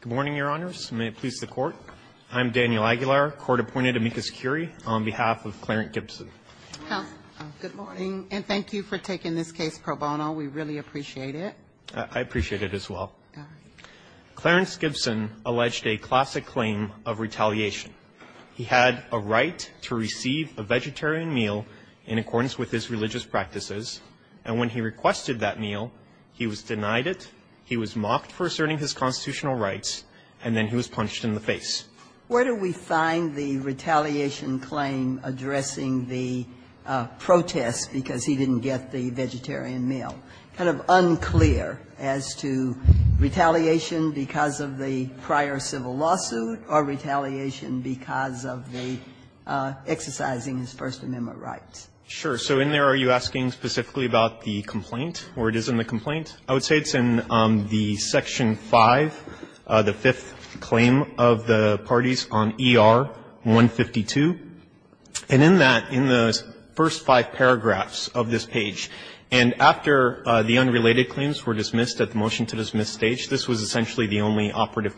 Good morning, Your Honors. May it please the Court. I'm Daniel Aguilar, Court-Appointed Amicus Curie, on behalf of Clarence Gibson. Good morning. And thank you for taking this case pro bono. We really appreciate it. I appreciate it as well. Clarence Gibson alleged a classic claim of retaliation. He had a right to receive a vegetarian meal in accordance with his religious practices, and when he requested that meal, he was denied it, he was mocked for asserting his constitutional rights, and then he was punched in the face. Where do we find the retaliation claim addressing the protest because he didn't get the vegetarian meal? Kind of unclear as to retaliation because of the prior civil lawsuit or retaliation because of the exercising his First Amendment rights. Sure. So in there, are you asking specifically about the complaint or it is in the complaint? I would say it's in the Section 5, the fifth claim of the parties on ER-152. And in that, in the first five paragraphs of this page, and after the unrelated claims were dismissed at the motion-to-dismiss stage, this was essentially the only operative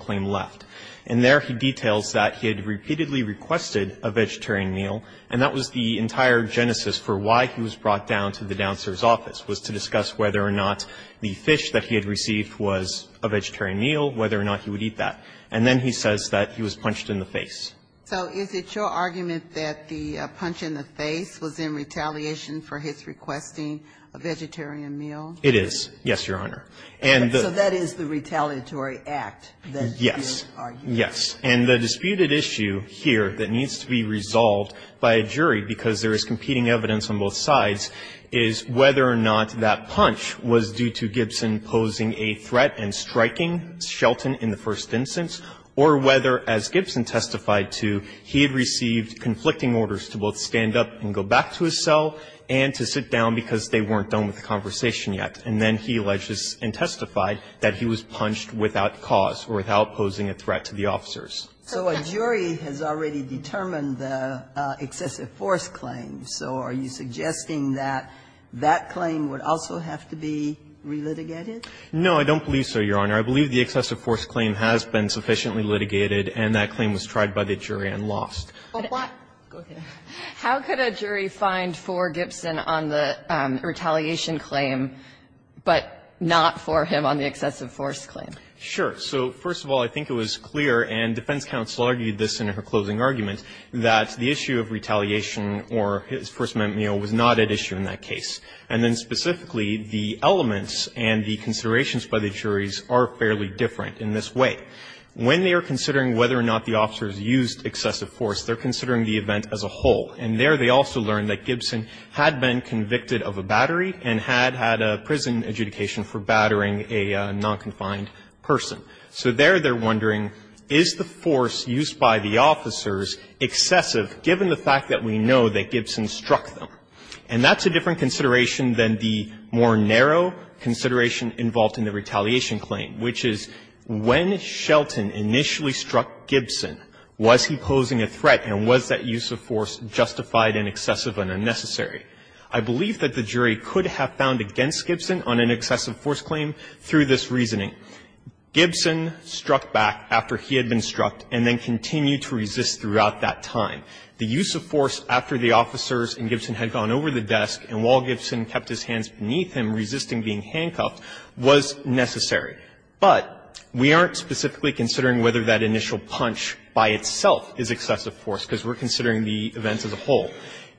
And there, he details that he had repeatedly requested a vegetarian meal, and that was the entire genesis for why he was brought down to the downser's office, was to discuss whether or not the fish that he had received was a vegetarian meal, whether or not he would eat that. And then he says that he was punched in the face. So is it your argument that the punch in the face was in retaliation for his requesting a vegetarian meal? It is. Yes, Your Honor. So that is the retaliatory act that you argue. Yes. And the disputed issue here that needs to be resolved by a jury, because there is competing evidence on both sides, is whether or not that punch was due to Gibson posing a threat and striking Shelton in the first instance, or whether, as Gibson testified to, he had received conflicting orders to both stand up and go back to his cell and to sit down because they weren't done with the conversation yet. And then he alleges and testified that he was punched without cause or without posing a threat to the officers. So a jury has already determined the excessive force claim. So are you suggesting that that claim would also have to be relitigated? No, I don't believe so, Your Honor. I believe the excessive force claim has been sufficiently litigated, and that claim was tried by the jury and lost. How could a jury find for Gibson on the retaliation claim but not for him on the excessive force claim? Sure. So, first of all, I think it was clear, and defense counsel argued this in her closing argument, that the issue of retaliation or his first-amendment meal was not at issue in that case. And then specifically, the elements and the considerations by the juries are fairly different in this way. When they are considering whether or not the officers used excessive force, they're considering the event as a whole. And there, they also learned that Gibson had been convicted of a battery and had had a prison adjudication for battering a non-confined person. So there, they're wondering, is the force used by the officers excessive, given the fact that we know that Gibson struck them? And that's a different consideration than the more narrow consideration involved in the retaliation claim, which is, when Shelton initially struck Gibson, was he posing a threat, and was that use of force justified and excessive and unnecessary? I believe that the jury could have found against Gibson on an excessive force claim through this reasoning. Gibson struck back after he had been struck and then continued to resist throughout that time. The use of force after the officers and Gibson had gone over the desk and while Gibson kept his hands beneath him, resisting being handcuffed, was necessary. But we aren't specifically considering whether that initial punch by itself is excessive force, because we're considering the events as a whole.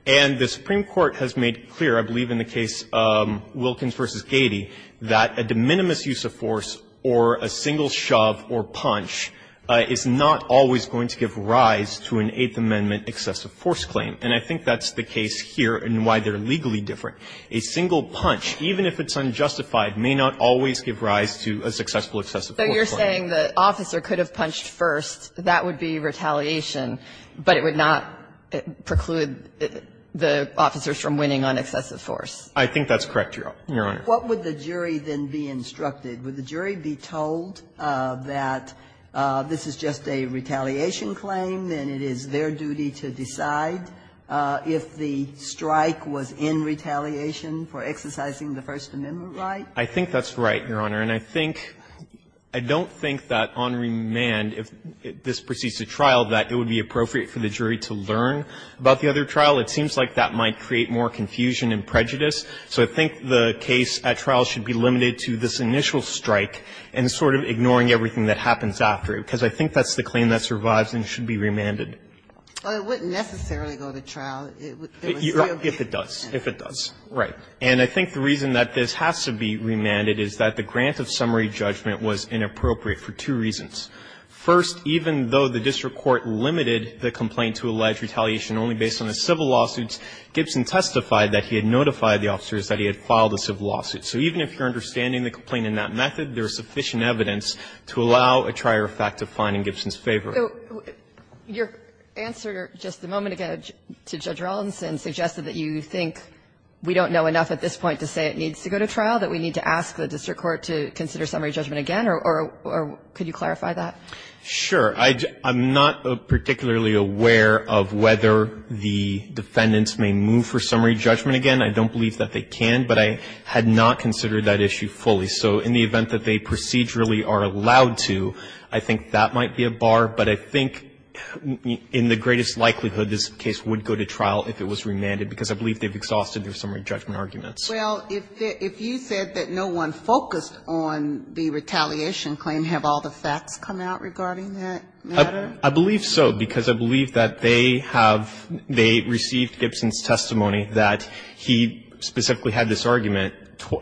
And the Supreme Court has made clear, I believe in the case Wilkins v. Gady, that a de minimis use of force or a single shove or punch is not always going to give rise to an Eighth Amendment excessive force claim. And I think that's the case here and why they're legally different. A single punch, even if it's unjustified, may not always give rise to a successful excessive force claim. So you're saying the officer could have punched first, that would be retaliation, but it would not preclude the officers from winning on excessive force? I think that's correct, Your Honor. What would the jury then be instructed? Would the jury be told that this is just a retaliation claim and it is their duty to decide if the strike was in retaliation for exercising the First Amendment right? I think that's right, Your Honor. And I think – I don't think that on remand, if this proceeds to trial, that it would be appropriate for the jury to learn about the other trial. It seems like that might create more confusion and prejudice. So I think the case at trial should be limited to this initial strike and sort of ignoring everything that happens after it, because I think that's the claim that survives and should be remanded. But it wouldn't necessarily go to trial. It would still be remanded. If it does, if it does, right. And I think the reason that this has to be remanded is that the grant of summary judgment was inappropriate for two reasons. First, even though the district court limited the complaint to allege retaliation only based on the civil lawsuits, Gibson testified that he had notified the officers that he had filed a civil lawsuit. So even if you're understanding the complaint in that method, there is sufficient evidence to allow a trier fact to find in Gibson's favor. So your answer just a moment ago to Judge Rolandson suggested that you think we don't know enough at this point to say it needs to go to trial, that we need to ask the district court to consider summary judgment again, or could you clarify that? Sure. I'm not particularly aware of whether the defendants may move for summary judgment again. I don't believe that they can, but I had not considered that issue fully. So in the event that they procedurally are allowed to, I think that might be a bar. But I think in the greatest likelihood, this case would go to trial if it was remanded, because I believe they've exhausted their summary judgment arguments. Well, if you said that no one focused on the retaliation claim, have all the facts come out regarding that matter? I believe so, because I believe that they have they received Gibson's testimony that he specifically had this argument,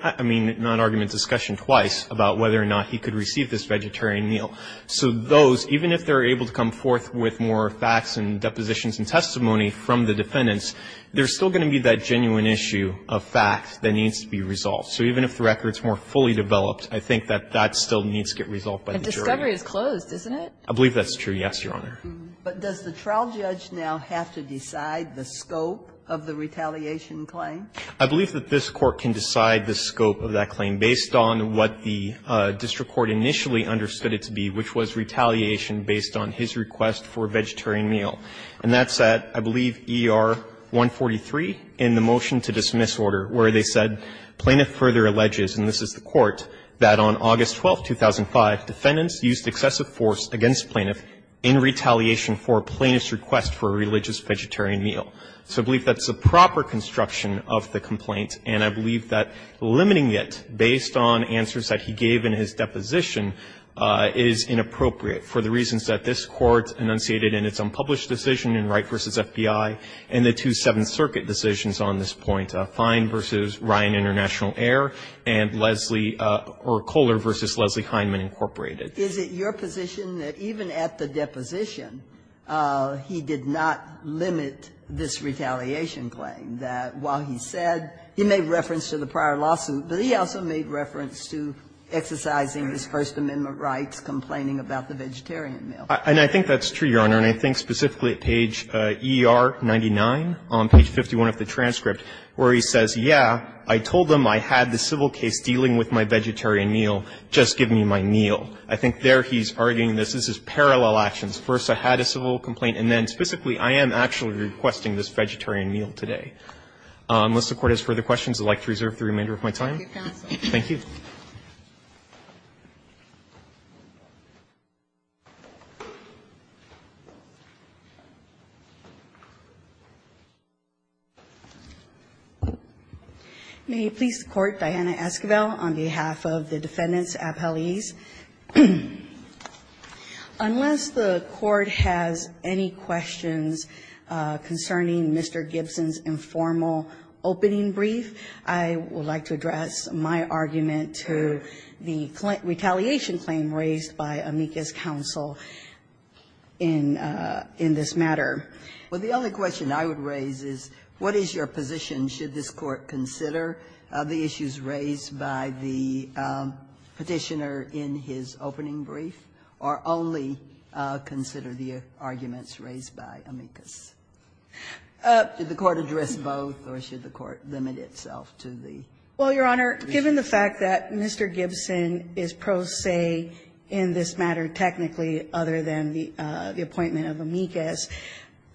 I mean, non-argument discussion twice, about whether or not he could receive this vegetarian meal. So those, even if they're able to come forth with more facts and depositions and testimony from the defendants, there's still going to be that genuine issue of fact that needs to be resolved. So even if the record's more fully developed, I think that that still needs to get resolved by the jury. But discovery is closed, isn't it? I believe that's true, yes, Your Honor. But does the trial judge now have to decide the scope of the retaliation claim? I believe that this Court can decide the scope of that claim based on what the district court initially understood it to be, which was retaliation based on his request for a vegetarian meal. And that's at, I believe, ER 143 in the motion to dismiss order, where they said, Plaintiff further alleges, and this is the Court, that on August 12, 2005, defendants used excessive force against Plaintiff in retaliation for a plaintiff's request for a religious vegetarian meal. So I believe that's a proper construction of the complaint, and I believe that limiting it based on answers that he gave in his deposition is inappropriate for the reasons that this Court enunciated in its unpublished decision in Wright v. FBI and the two Seventh Circuit decisions on this point, Fine v. Ryan International Air and Lesley or Kohler v. Lesley-Heinman Incorporated. Is it your position that even at the deposition, he did not limit this retaliation claim, that while he said he made reference to the prior lawsuit, but he also made reference to exercising his First Amendment rights complaining about the vegetarian meal? And I think that's true, Your Honor, and I think specifically at page ER 99, on page 51 of the transcript, where he says, yeah, I told them I had the civil case dealing with my vegetarian meal, just give me my meal. I think there he's arguing this is parallel actions. First, I had a civil complaint, and then specifically, I am actually requesting this vegetarian meal today. Unless the Court has further questions, I'd like to reserve the remainder of my time. Thank you. May you please support Diana Esquivel on behalf of the defendants, appellees? Unless the Court has any questions concerning Mr. Gibson's informal opening brief, I would like to address my argument to the retaliation claim raised by Amicus counsel in this matter. Well, the only question I would raise is, what is your position, should this Court consider the issues raised by the Petitioner in his opening brief, or only consider the arguments raised by Amicus? Should the Court address both, or should the Court limit itself to the Petitioner? Well, Your Honor, given the fact that Mr. Gibson is pro se in this matter technically other than the appointment of Amicus,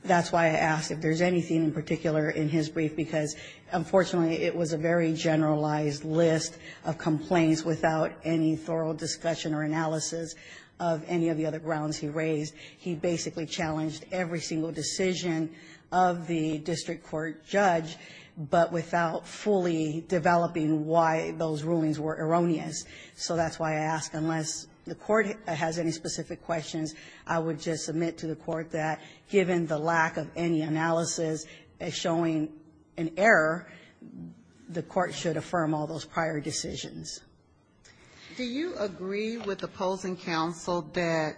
that's why I asked if there's anything in particular in his brief, because unfortunately, it was a very generalized list of complaints without any thorough discussion or analysis of any of the other grounds he raised. He basically challenged every single decision of the district court judge, but without fully developing why those rulings were erroneous. So that's why I ask, unless the Court has any specific questions, I would just submit to the Court that, given the lack of any analysis as showing an error, the Court should affirm all those prior decisions. Do you agree with opposing counsel that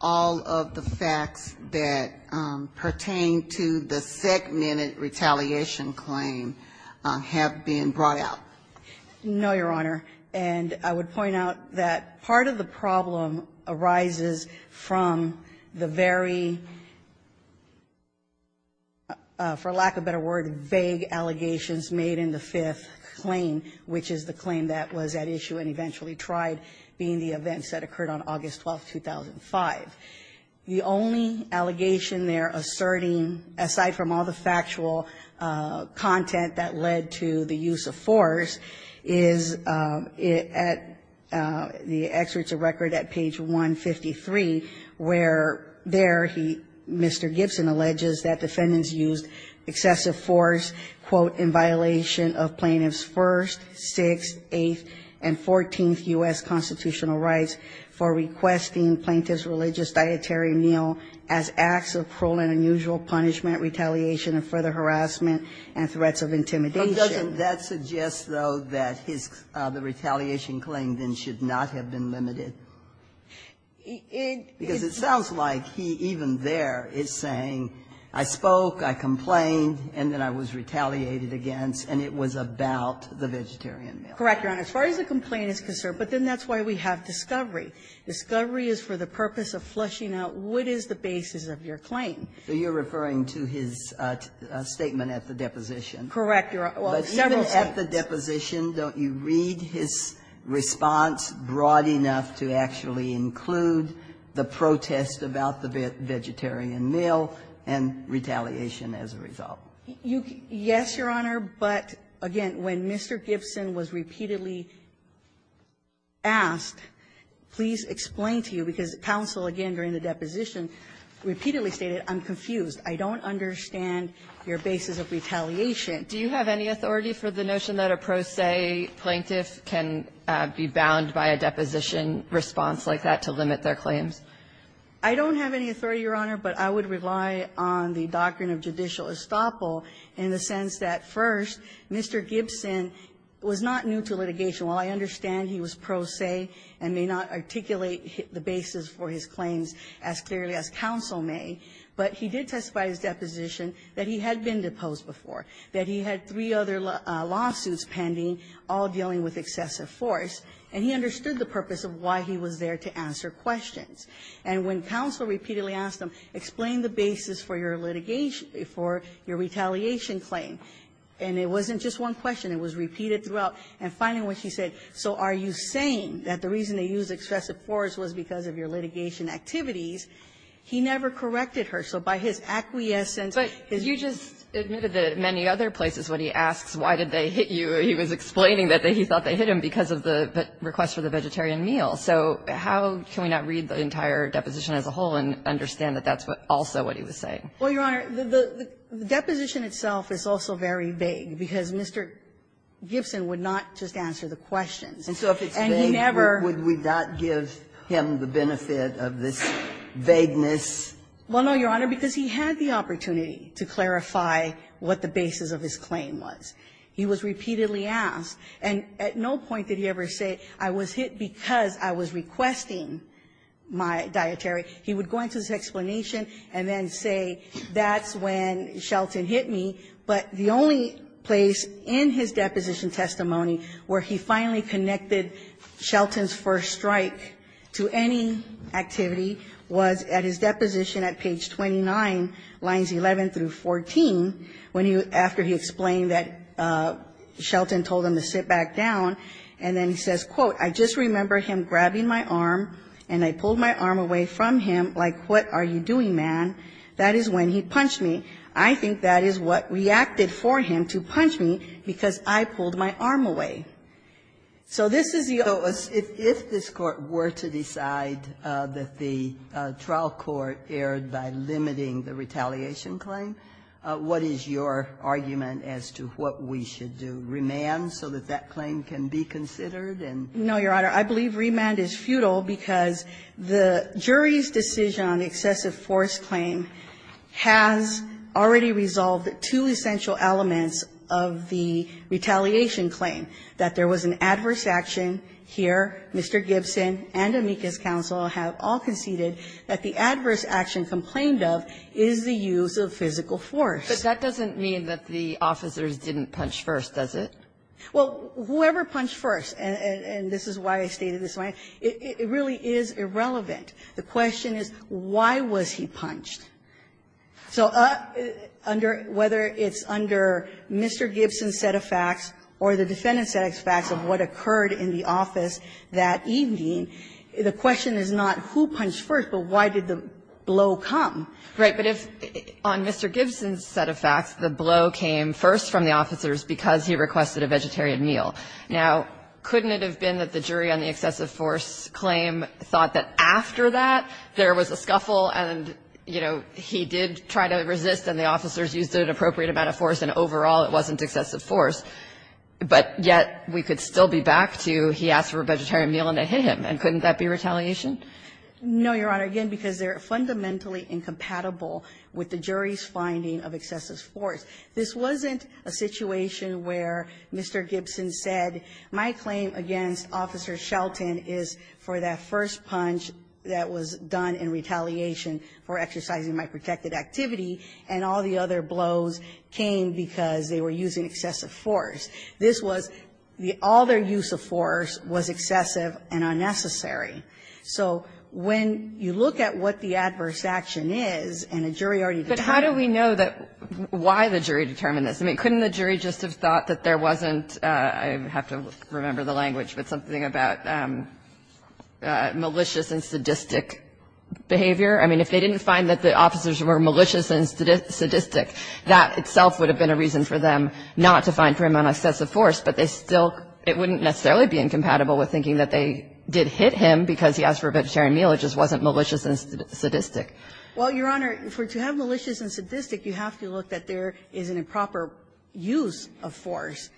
all of the facts that pertain to the segmented retaliation claim have been brought out? No, Your Honor. And I would point out that part of the problem arises from the very, for lack of a better word, vague allegations made in the fifth claim, which is the claim that was at issue and eventually tried, being the events that occurred on August 12, 2005. The only allegation they're asserting, aside from all the factual content that led to the use of force, is at the excerpts of record at page 153, where there he, Mr. Gibson, alleges that defendants used excessive force, quote, in violation of plaintiffs' first, sixth, eighth, and fourteenth U.S. constitutional rights for requesting plaintiffs' religious dietary meal as acts of cruel and unusual punishment, retaliation of further harassment and threats of intimidation. But doesn't that suggest, though, that the retaliation claim then should not have been limited? Because it sounds like he even there is saying, I spoke, I complained, and then I was retaliated against, and it was about the vegetarian meal. Correct, Your Honor. As far as the complaint is concerned, but then that's why we have discovery. Discovery is for the purpose of fleshing out what is the basis of your claim. So you're referring to his statement at the deposition? Correct, Your Honor. Well, several states. But even at the deposition, don't you read his response broad enough to actually include the protest about the vegetarian meal and retaliation as a result? Yes, Your Honor. But, again, when Mr. Gibson was repeatedly asked, please explain to you, because counsel, again, during the deposition, repeatedly stated, I'm confused. I don't understand your basis of retaliation. Do you have any authority for the notion that a pro se plaintiff can be bound by a deposition response like that to limit their claims? I don't have any authority, Your Honor, but I would rely on the doctrine of judicial estoppel in the sense that, first, Mr. Gibson was not new to litigation. While I understand he was pro se and may not articulate the basis for his claims as clearly as counsel may, but he did testify at his deposition that he had been deposed before, that he had three other lawsuits pending, all dealing with excessive force, and he understood the purpose of why he was there to answer questions. And when counsel repeatedly asked him, explain the basis for your litigation for your retaliation claim, and it wasn't just one question. It was repeated throughout, and finally, when she said, so are you saying that the reason they used excessive force was because of your litigation activities, he never corrected her. So by his acquiescence, his reason for that was that he was there to answer questions. Kagan, you just admitted that at many other places, when he asks why did they hit you, he was explaining that he thought they hit him because of the request for the vegetarian meal. So how can we not read the entire deposition as a whole and understand that that's also what he was saying? Well, Your Honor, the deposition itself is also very vague, because Mr. Gibson would not just answer the questions. And he never And so if it's vague, would we not give him the benefit of this vagueness? Well, no, Your Honor, because he had the opportunity to clarify what the basis of his claim was. He was repeatedly asked, and at no point did he ever say, I was hit because I was requesting my dietary. He would go into his explanation and then say, that's when Shelton hit me. But the only place in his deposition testimony where he finally connected Shelton's first strike to any activity was at his deposition at page 29, lines 11 through 14, when he, after he explained that Shelton told him to sit back down, and then he says, quote, I just remember him grabbing my arm, and I pulled my arm away from him, like, what are you doing, man? That is when he punched me. I think that is what reacted for him to punch me, because I pulled my arm away. So this is the other way. If this Court were to decide that the trial court erred by limiting the retaliation claim, what is your argument as to what we should do, remand, so that that claim can be considered? No, Your Honor. I believe remand is futile because the jury's decision on the excessive force claim has already resolved two essential elements of the retaliation claim, that there was an adverse action here. Mr. Gibson and Amicus Counsel have all conceded that the adverse action complained of is the use of physical force. But that doesn't mean that the officers didn't punch first, does it? Well, whoever punched first, and this is why I stated this, it really is irrelevant. The question is, why was he punched? So under – whether it's under Mr. Gibson's set of facts or the defendant's set of facts of what occurred in the office that evening, the question is not who punched first, but why did the blow come. Right. But if on Mr. Gibson's set of facts, the blow came first from the officers because he requested a vegetarian meal. Now, couldn't it have been that the jury on the excessive force claim thought that after that, there was a scuffle and, you know, he did try to resist and the officers used an appropriate amount of force and overall it wasn't excessive force, but yet we could still be back to he asked for a vegetarian meal and it hit him, and couldn't that be retaliation? No, Your Honor, again, because they're fundamentally incompatible with the jury's finding of excessive force. This wasn't a situation where Mr. Gibson said, my claim against Officer Shelton is for that first punch that was done in retaliation for exercising my protected activity, and all the other blows came because they were using excessive force. This was the – all their use of force was excessive and unnecessary. So when you look at what the adverse action is, and a jury already determined this, I mean, couldn't the jury just have thought that there wasn't – I have to remember the language, but something about malicious and sadistic behavior? I mean, if they didn't find that the officers were malicious and sadistic, that itself would have been a reason for them not to find for him an excessive force, but they still – it wouldn't necessarily be incompatible with thinking that they did hit him because he asked for a vegetarian meal, it just wasn't malicious and sadistic. Well, Your Honor, to have malicious and sadistic, you have to look that there is an improper use of force,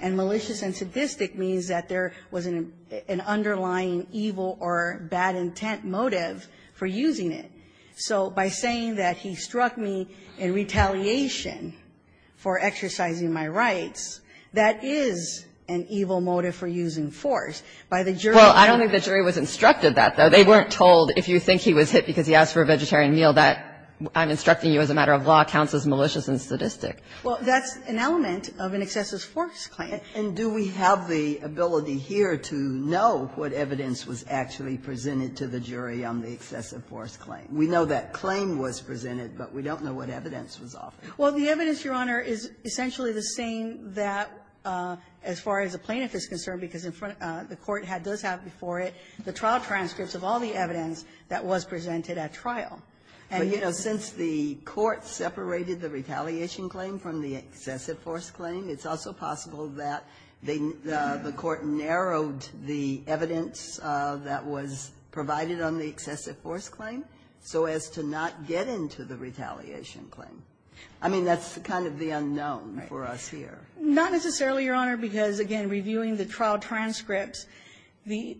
and malicious and sadistic means that there was an underlying evil or bad intent motive for using it. So by saying that he struck me in retaliation for exercising my rights, that is an evil motive for using force. But if he said, I'm going to have a vegetarian meal, that I'm instructing you as a matter of law counts as malicious and sadistic. Well, that's an element of an excessive force claim. And do we have the ability here to know what evidence was actually presented to the jury on the excessive force claim? We know that claim was presented, but we don't know what evidence was offered. Well, the evidence, Your Honor, is essentially the same that as far as the plaintiff is concerned, because in front of the court does have before it the trial transcripts of all the evidence that was presented at trial. But, you know, since the court separated the retaliation claim from the excessive force claim, it's also possible that the court narrowed the evidence that was provided on the excessive force claim so as to not get into the retaliation claim. I mean, that's kind of the unknown for us here. Not necessarily, Your Honor, because, again, reviewing the trial transcripts, the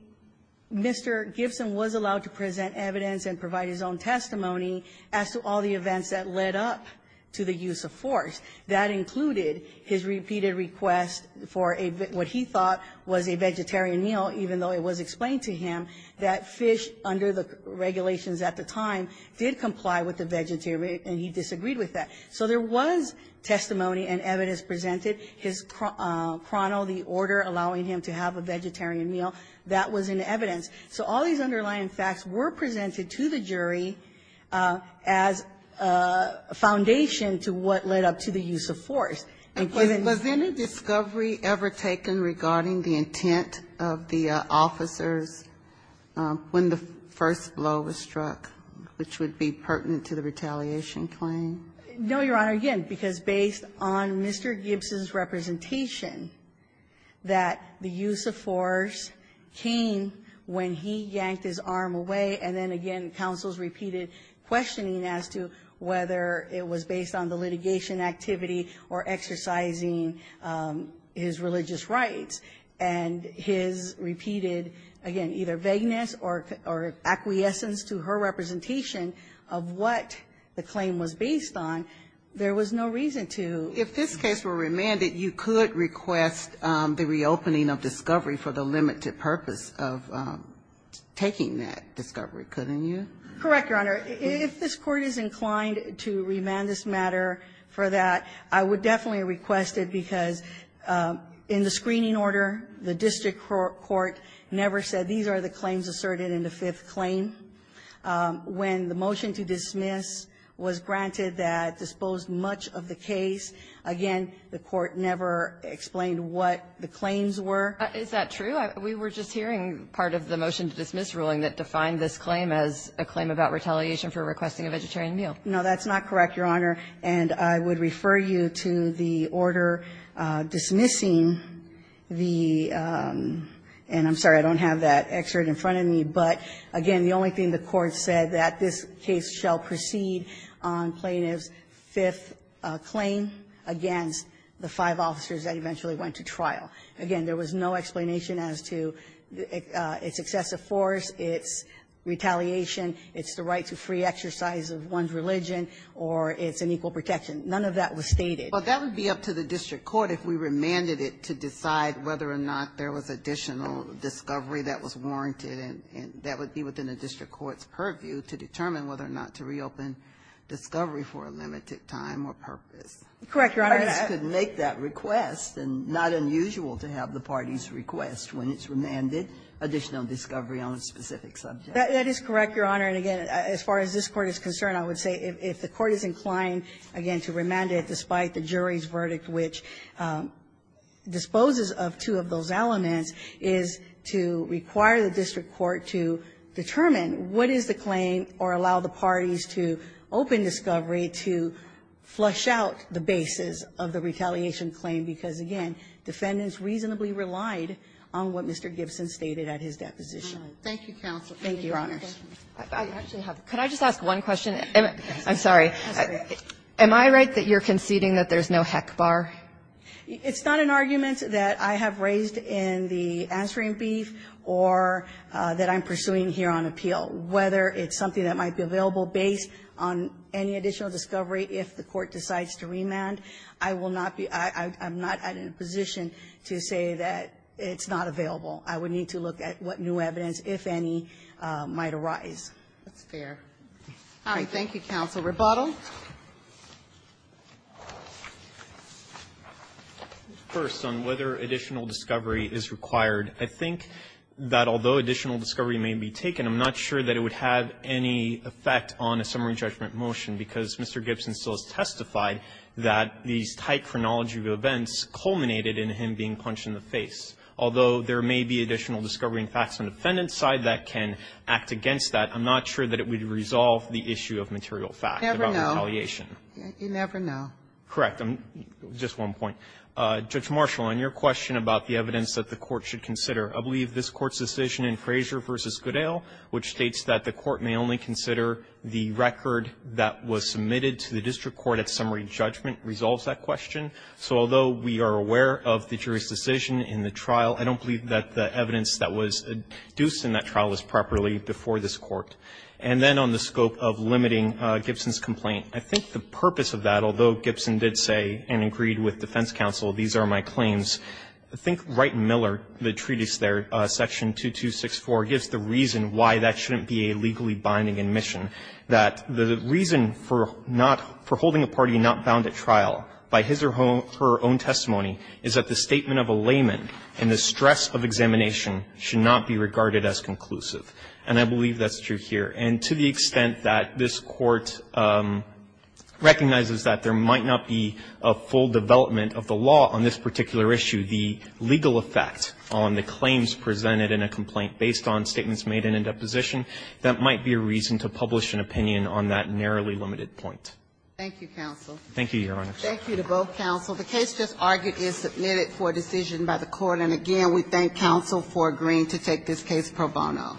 Mr. Gibson was allowed to present evidence and provide his own testimony as to all the events that led up to the use of force. That included his repeated request for what he thought was a vegetarian meal, even though it was explained to him that fish under the regulations at the time did comply with the vegetarian, and he disagreed with that. So there was testimony and evidence presented, his chrono, the order allowing him to have a vegetarian meal, that was in evidence. So all these underlying facts were presented to the jury as a foundation to what led up to the use of force, including the use of force. Ginsburg, was any discovery ever taken regarding the intent of the officers when the first blow was struck, which would be pertinent to the retaliation claim? No, Your Honor, again, because based on Mr. Gibson's representation that the use of force came when he yanked his arm away, and then, again, counsels repeated questioning as to whether it was based on the litigation activity or exercising his religious rights, and his repeated, again, either vagueness or acquiescence to her representation of what the claim was based on, there was no reason to. If this case were remanded, you could request the reopening of discovery for the limited purpose of taking that discovery, couldn't you? Correct, Your Honor. If this Court is inclined to remand this matter for that, I would definitely request it, because in the screening order, the district court never said these are the claims asserted in the fifth claim. When the motion to dismiss was granted that disposed much of the case, again, the Court never explained what the claims were. Is that true? We were just hearing part of the motion to dismiss ruling that defined this claim as a claim about retaliation for requesting a vegetarian meal. No, that's not correct, Your Honor. And I would refer you to the order dismissing the – and I'm sorry, I don't have that excerpt in front of me, but, again, the only thing the Court said, that this case shall proceed on plaintiff's fifth claim against the five officers that eventually went to trial. Again, there was no explanation as to its excessive force, its retaliation, its right to free exercise of one's religion, or its unequal protection. None of that was stated. Well, that would be up to the district court if we remanded it to decide whether or not there was additional discovery that was warranted, and that would be within the district court's purview to determine whether or not to reopen discovery for a limited time or purpose. Correct, Your Honor. I just couldn't make that request, and not unusual to have the parties request when it's remanded additional discovery on a specific subject. That is correct, Your Honor. And, again, as far as this Court is concerned, I would say if the Court is inclined, again, to remand it despite the jury's verdict, which disposes of two of those elements, is to require the district court to determine what is the claim or allow the parties to open discovery to flush out the basis of the retaliation claim, because, again, defendants reasonably relied on what Mr. Gibson stated at his deposition. Thank you, counsel. Thank you, Your Honors. I actually have a question. Could I just ask one question? I'm sorry. Am I right that you're conceding that there's no heck bar? It's not an argument that I have raised in the answering brief or that I'm pursuing here on appeal, whether it's something that might be available based on any additional discovery if the Court decides to remand. I will not be – I'm not in a position to say that it's not available. I would need to look at what new evidence, if any, might arise. That's fair. All right. Thank you, counsel. Mr. Rebottle. First, on whether additional discovery is required, I think that although additional discovery may be taken, I'm not sure that it would have any effect on a summary judgment motion, because Mr. Gibson still has testified that these tight chronology of events culminated in him being punched in the face. Although there may be additional discovery and facts on the defendant's side that can act against that, I'm not sure that it would resolve the issue of material fact about retaliation. Never know. You never know. Correct. Just one point. Judge Marshall, on your question about the evidence that the Court should consider, I believe this Court's decision in Frazier v. Goodale, which states that the Court may only consider the record that was submitted to the district court at summary judgment, resolves that question. So although we are aware of the jury's decision in the trial, I don't believe that the evidence that was adduced in that trial was properly before this Court. And then on the scope of limiting Gibson's complaint, I think the purpose of that, although Gibson did say and agreed with defense counsel, these are my claims, I think Wright and Miller, the treatise there, section 2264, gives the reason why that shouldn't be a legally binding admission, that the reason for not – for holding a party not bound at trial by his or her own testimony is that the statement of a layman in the stress of examination should not be regarded as conclusive. And I believe that's true here. And to the extent that this Court recognizes that there might not be a full development of the law on this particular issue, the legal effect on the claims presented in a complaint based on statements made in a deposition, that might be a reason to publish an opinion on that narrowly limited point. Thank you, counsel. Thank you, Your Honor. Thank you to both counsel. The case just argued is submitted for decision by the Court. And again, we thank counsel for agreeing to take this case pro bono.